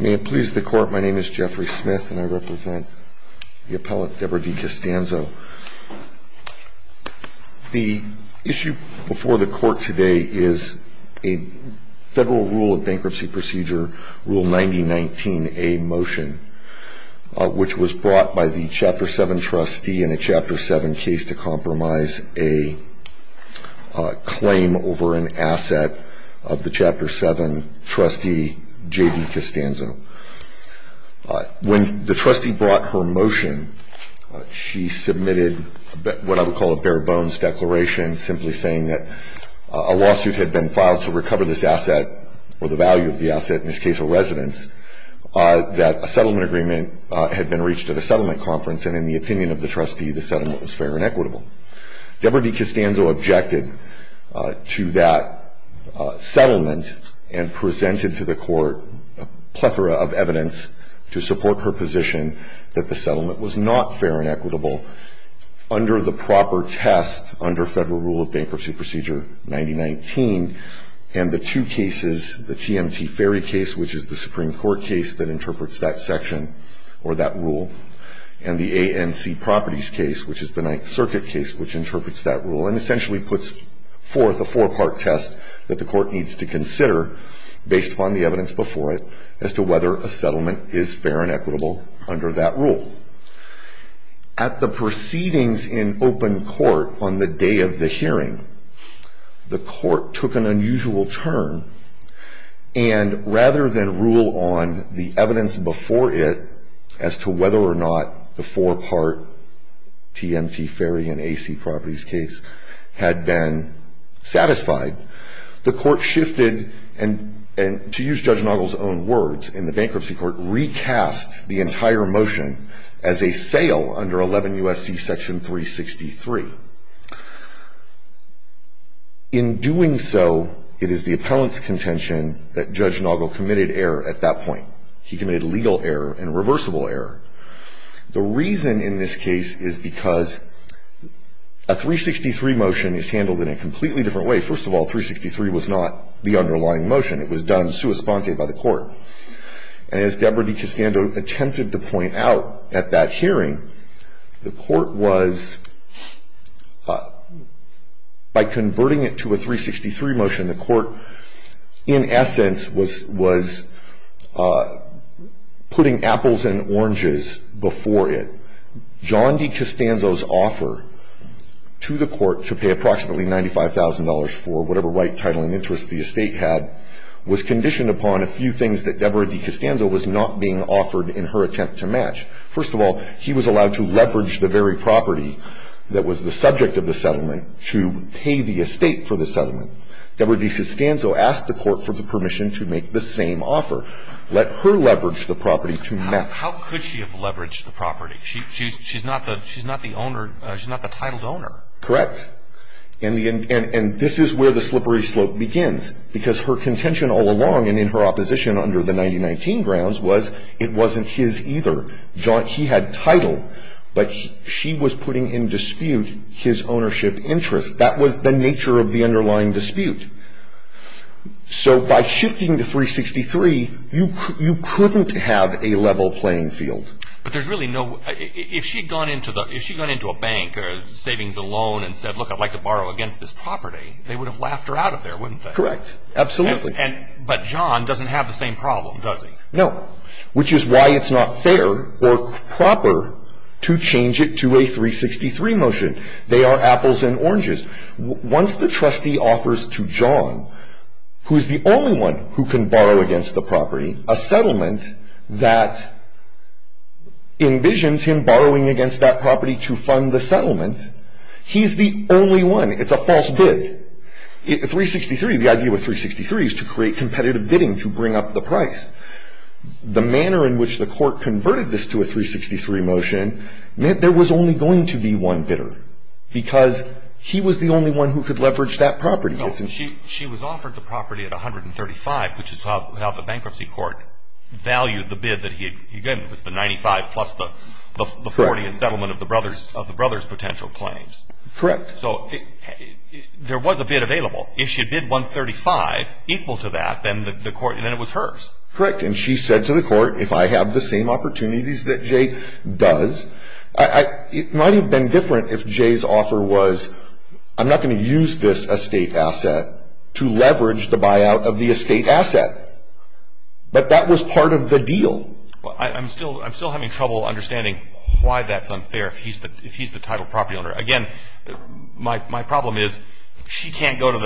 May it please the Court, my name is Jeffrey Smith and I represent the appellate Deborah DiCostanzo. The issue before the court today is a federal rule of bankruptcy procedure, Rule 9019A motion, which was brought by the Chapter 7 trustee in a Chapter 7 case to compromise a claim over an asset of the trustee Deborah DiCostanzo. When the trustee brought her motion, she submitted what I would call a bare-bones declaration simply saying that a lawsuit had been filed to recover this asset, or the value of the asset in this case of residence, that a settlement agreement had been reached at a settlement conference and in the opinion of the trustee the settlement was fair and equitable. Deborah DiCostanzo objected to that settlement and presented to the court a plethora of evidence to support her position that the settlement was not fair and equitable under the proper test under Federal Rule of Bankruptcy Procedure 9019 and the two cases, the TMT Ferry case, which is the Supreme Court case that interprets that section or that rule, and the ANC Properties case, which is the Ninth Circuit case, which interprets that rule and essentially puts forth a four-part test that the court needs to consider based on the evidence before it as to whether a settlement is fair and equitable under that rule. At the proceedings in open court on the day of the hearing, the court took an unusual turn and rather than rule on the evidence before it as to whether or not the four-part TMT Ferry and ANC Properties case had been satisfied, the court shifted and, to use Judge Noggle's own words, in the bankruptcy court, recast the entire motion as a sale under 11 U.S.C. Section 363. In doing so, it is the appellant's contention that Judge Noggle committed error at that point. He committed legal error and reversible error. The reason in this case is because a 363 motion is handled in a completely different way. First of all, 363 was not the underlying motion. It was done sua sponte by the court. And as Deborah DeCastando attempted to point out at that hearing, the court was, by converting it to a 363 motion, the court in essence was putting apples and oranges before it. John DeCastando's offer to the court to pay approximately $95,000 for whatever right, title, and interest the estate had was conditioned upon a few things that Deborah DeCastando was not being offered in her attempt to match. First of all, he was allowed to leverage the very property that was the subject of the settlement to pay the estate for the settlement. Deborah DeCastando asked the court for the How could she have leveraged the property? She's not the titled owner. Correct. And this is where the slippery slope begins. Because her contention all along, and in her opposition under the 1919 grounds, was it wasn't his either. He had title, but she was putting in dispute his ownership interest. That was the nature of the underlying dispute. So by shifting to 363, you couldn't have a level playing field. But there's really no, if she'd gone into a bank or savings and loan and said, look, I'd like to borrow against this property, they would have laughed her out of there, wouldn't they? Correct. Absolutely. But John doesn't have the same problem, does he? No. Which is why it's not fair or proper to change it to a 363 motion. They are apples and oranges. Once the trustee offers to John, who is the only one who can borrow against the property, a settlement that envisions him borrowing against that property to fund the settlement, he's the only one. It's a false bid. 363, the idea with 363 is to create competitive bidding to bring up the price. The manner in which the court converted this to a 363 motion meant there was only going to be one bidder. Because he was the only one who could leverage that property. She was offered the property at 135, which is how the bankruptcy court valued the bid that he gave. It was the 95 plus the 40 in settlement of the brother's potential claims. Correct. So there was a bid available. If she bid 135 equal to that, then it was hers. Correct. And she said to the court, if I have the same opportunities that Jay does, it might have been different if Jay's offer was, I'm not going to use this estate asset to leverage the buyout of the estate asset. But that was part of the deal. I'm still having trouble understanding why that's unfair if he's the title property owner. Again, my problem is she can't go to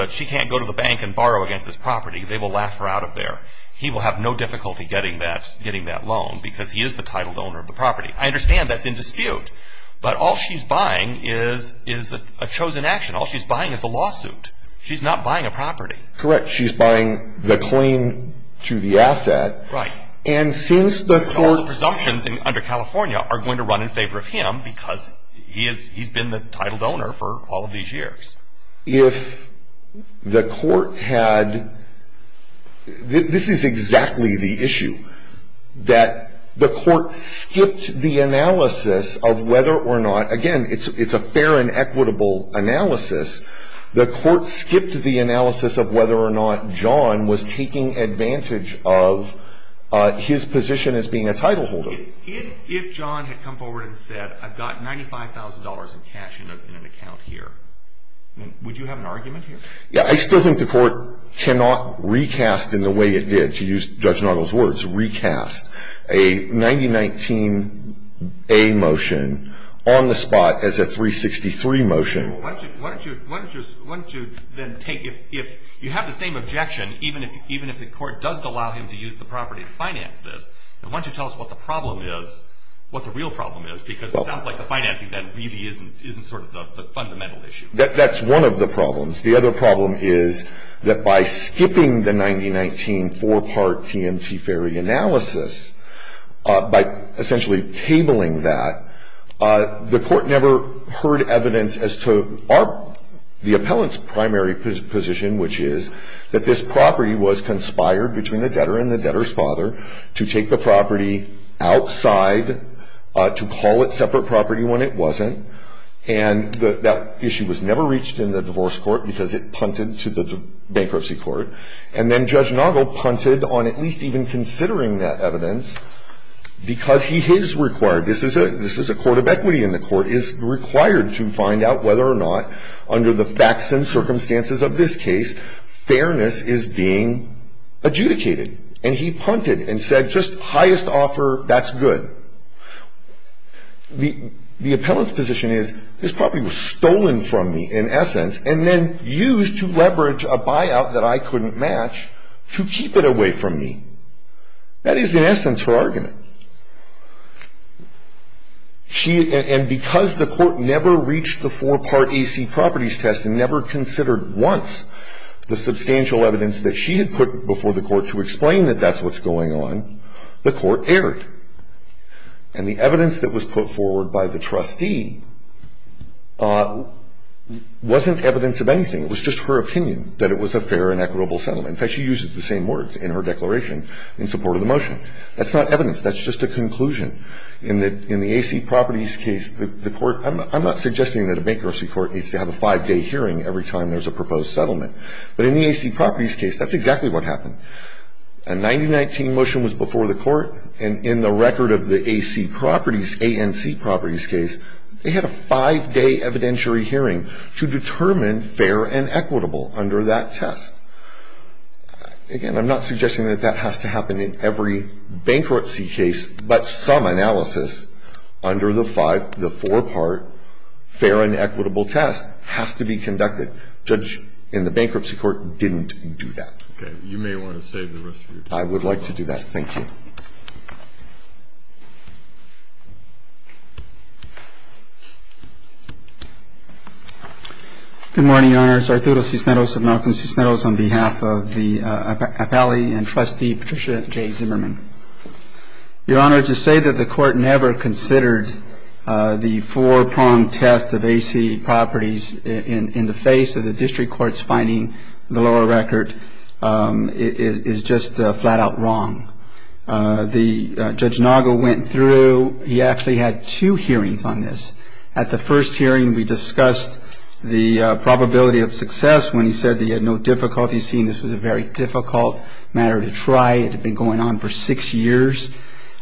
the bank and borrow against this property. They will laugh her out of there. He will have no difficulty getting that loan because he is the title owner of the property. I understand that's in dispute. But all she's buying is a chosen action. All she's buying is a lawsuit. She's not buying a property. Correct. She's buying the claim to the asset. Right. And since the court... So all the presumptions under California are going to run in favor of him because he's been the title owner for all of these years. If the court had... This is exactly the issue. That the court skipped the analysis. The court skipped the analysis of whether or not John was taking advantage of his position as being a title holder. If John had come forward and said, I've got $95,000 in cash in an account here, would you have an argument here? Yeah. I still think the court cannot recast in the way it did, to use Judge A motion on the spot as a 363 motion. Why don't you then take... If you have the same objection, even if the court doesn't allow him to use the property to finance this, why don't you tell us what the problem is, what the real problem is? Because it sounds like the financing then really isn't sort of the fundamental issue. That's one of the problems. The other problem is that by skipping the analysis and recabling that, the court never heard evidence as to the appellant's primary position, which is that this property was conspired between the debtor and the debtor's father to take the property outside to call it separate property when it wasn't. And that issue was never reached in the divorce court because it punted to the bankruptcy court. And then Judge Noggle punted on at least even considering that evidence because he is required, this is a court of equity and the court is required to find out whether or not under the facts and circumstances of this case, fairness is being adjudicated. And he punted and said just highest offer, that's good. The appellant's position is this property was stolen from me in essence and then used to leverage a buyout that I couldn't match to keep it away from me. That is, in essence, her argument. She, and because the court never reached the four part AC properties test and never considered once the substantial evidence that she had put before the court to explain that that's what's going on, the court erred. And the evidence that was put forward by the trustee wasn't evidence of anything. It was just her opinion that it was a fair and equitable settlement. In fact, she uses the same words in her declaration in support of the motion. That's not evidence, that's just a conclusion. In the AC properties case, the court, I'm not suggesting that a bankruptcy court needs to have a five day hearing every time there's a proposed settlement. But in the AC properties case, that's exactly what happened. A 90-19 motion was before the court and in the record of the AC properties, ANC properties case, they had a five day evidentiary hearing to determine fair and equitable under that test. Again, I'm not suggesting that that has to happen in every bankruptcy case. But some analysis under the five, the four part fair and equitable test has to be conducted. Judge, in the bankruptcy court, didn't do that. Okay. You may want to save the rest of your time. I would like to do that. Thank you. Good morning, Your Honors. Arturo Cisneros of Malcolm Cisneros on behalf of the appellee and trustee, Patricia J. Zimmerman. Your Honor, to say that the court never considered the four pronged test of AC properties in the face of the district court's finding the lower record is just flat out wrong. The Judge Naga went through, he actually had two hearings on this. At the first hearing, we discussed the probability of success when he said they had no difficulty seeing this was a very difficult matter to try. It had been going on for six years.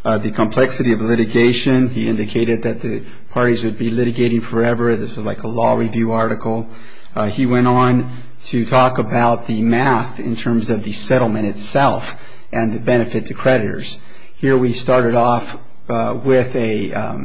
The complexity of litigation, he indicated that the parties would be litigating forever. This was like a law review article. He went on to talk about the math in terms of the settlement itself and the benefit to creditors. Here we started off with a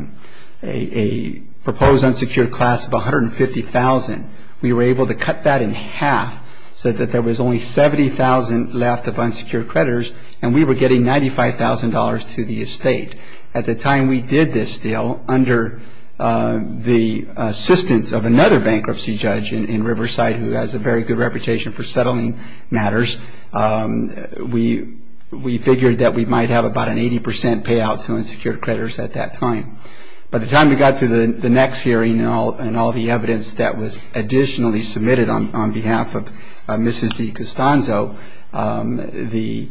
proposed unsecured class of $150,000. We were able to cut that in half so that there was only $70,000 left of unsecured creditors and we were getting $95,000 to the estate. At the time we did this deal, under the assistance of another bankruptcy judge in Riverside who has a very good reputation for settling matters, we figured that we might have about an 80% payout to unsecured creditors at that time. By the time we got to the next hearing and all the evidence that was additionally submitted on behalf of Mrs. DiCostanzo, the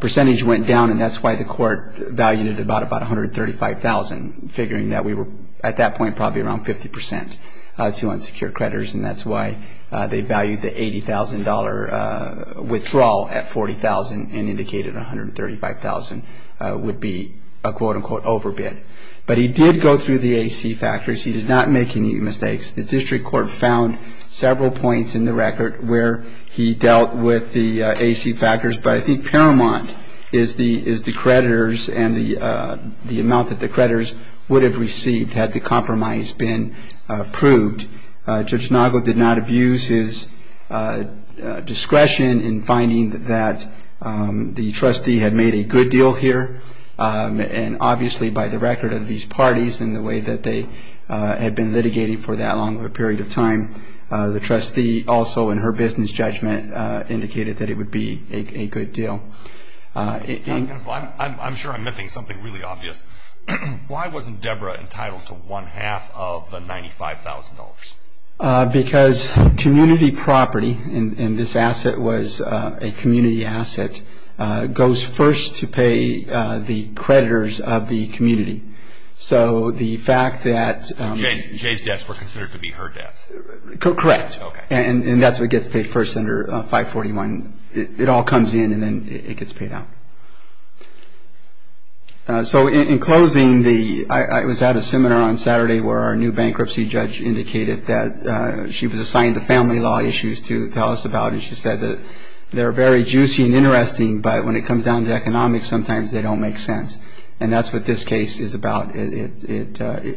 percentage went down and that's why the court valued it at about $135,000, figuring that we were at that point probably around 50% to unsecured creditors and that's why they valued the $80,000 withdrawal at $40,000 and indicated $135,000 would be a quote-unquote overbid. But he did go through the AC factors. He did not make any mistakes. The district court found several points in the record where he dealt with the AC factors, but I think paramount is the creditors and the amount that the creditors would have received had the compromise been approved. Judge Nago did not abuse his discretion in finding that the trustee had made a good deal here and obviously by the record of these parties and the way that they had been litigating for that long of a period of time, the trustee also in the district court found that the trustee had made a good deal. I'm sure I'm missing something really obvious. Why wasn't Debra entitled to one half of the $95,000? Because community property and this asset was a community asset goes first to pay the creditors of the community. So the fact that... Jay's debts were considered to be her debts. Correct. And that's what gets paid first under 541. It all comes in and then it gets paid out. So in closing, I was at a seminar on Saturday where our new bankruptcy judge indicated that she was assigned the family law issues to tell us about and she said that they're very juicy and interesting, but when it comes down to economics, sometimes they don't make sense. And that's what this case is about. The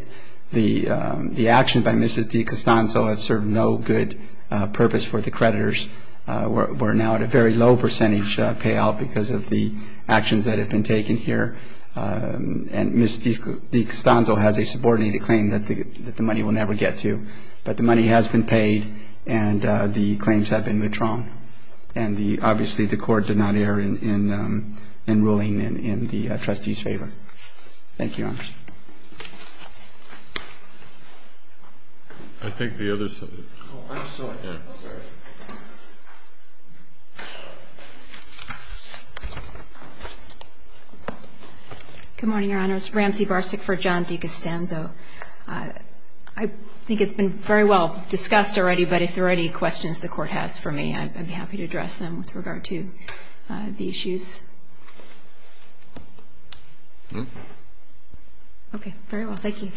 action by Mrs. DiCostanzo has served no good purpose for the creditors. We're now at a very low percentage payout because of the actions that have been taken here and Mrs. DiCostanzo has a subordinated claim that the money will never get to, but the money has been paid and the claims have been withdrawn. And obviously the court did not err in ruling in the trustee's favor. Thank you, Your Honor. I think the other side. Oh, I'm sorry. Good morning, Your Honors. Ramsey Varsic for John DiCostanzo. I think it's been very well discussed already, but if there are any questions the court has for me, I'd be happy to address them with regard to the issues. Thank you. Thank you. Thank you. Thank you. Thank you. Thank you. Thank you. Thank you. Thank you. Thank you. Thank you. Okay. Very well. Thank you.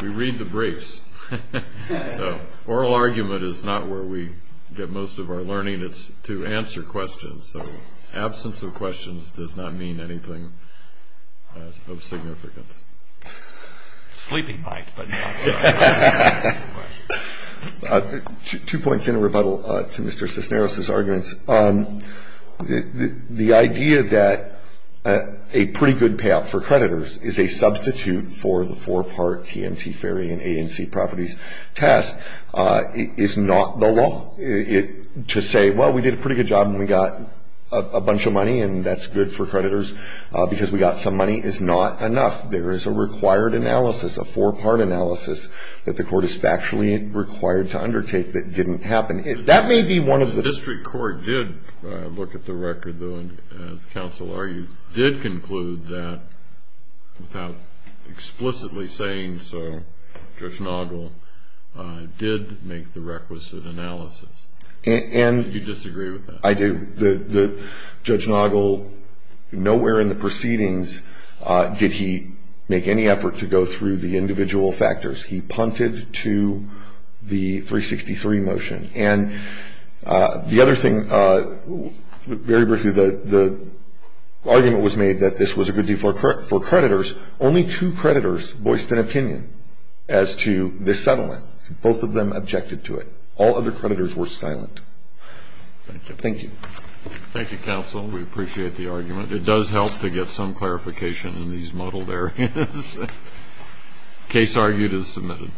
We read the briefs. So oral argument is not where we get most of our learning. It's to answer questions. So absence of questions does not mean anything of significance. Sleeping might, but no. Two points in rebuttal to Mr. Cisneros' arguments. The idea that a pretty good payout for creditors is a substitute for the four-part TMT, FAERI, and ANC properties test is not the law. To say, well, we did a pretty good job, and we got a bunch of money, and that's good for creditors because we got some money is not enough. There is a required analysis, a four-part analysis, that the court is factually required to undertake that didn't happen. The district court did look at the record, though, and as counsel argued did conclude that without explicitly saying so, Judge Noggle did make the requisite analysis. Do you disagree with that? I do. Judge Noggle, nowhere in the proceedings did he make any effort to go through the individual factors. He punted to the 363 motion. And the other thing, very briefly, the argument was made that this was a good deal for creditors. Only two creditors voiced an opinion as to this settlement. Both of them objected to it. All other creditors were silent. Thank you. Thank you. Thank you, counsel. We appreciate the argument. It does help to get some clarification in these muddled areas. Case argued as submitted.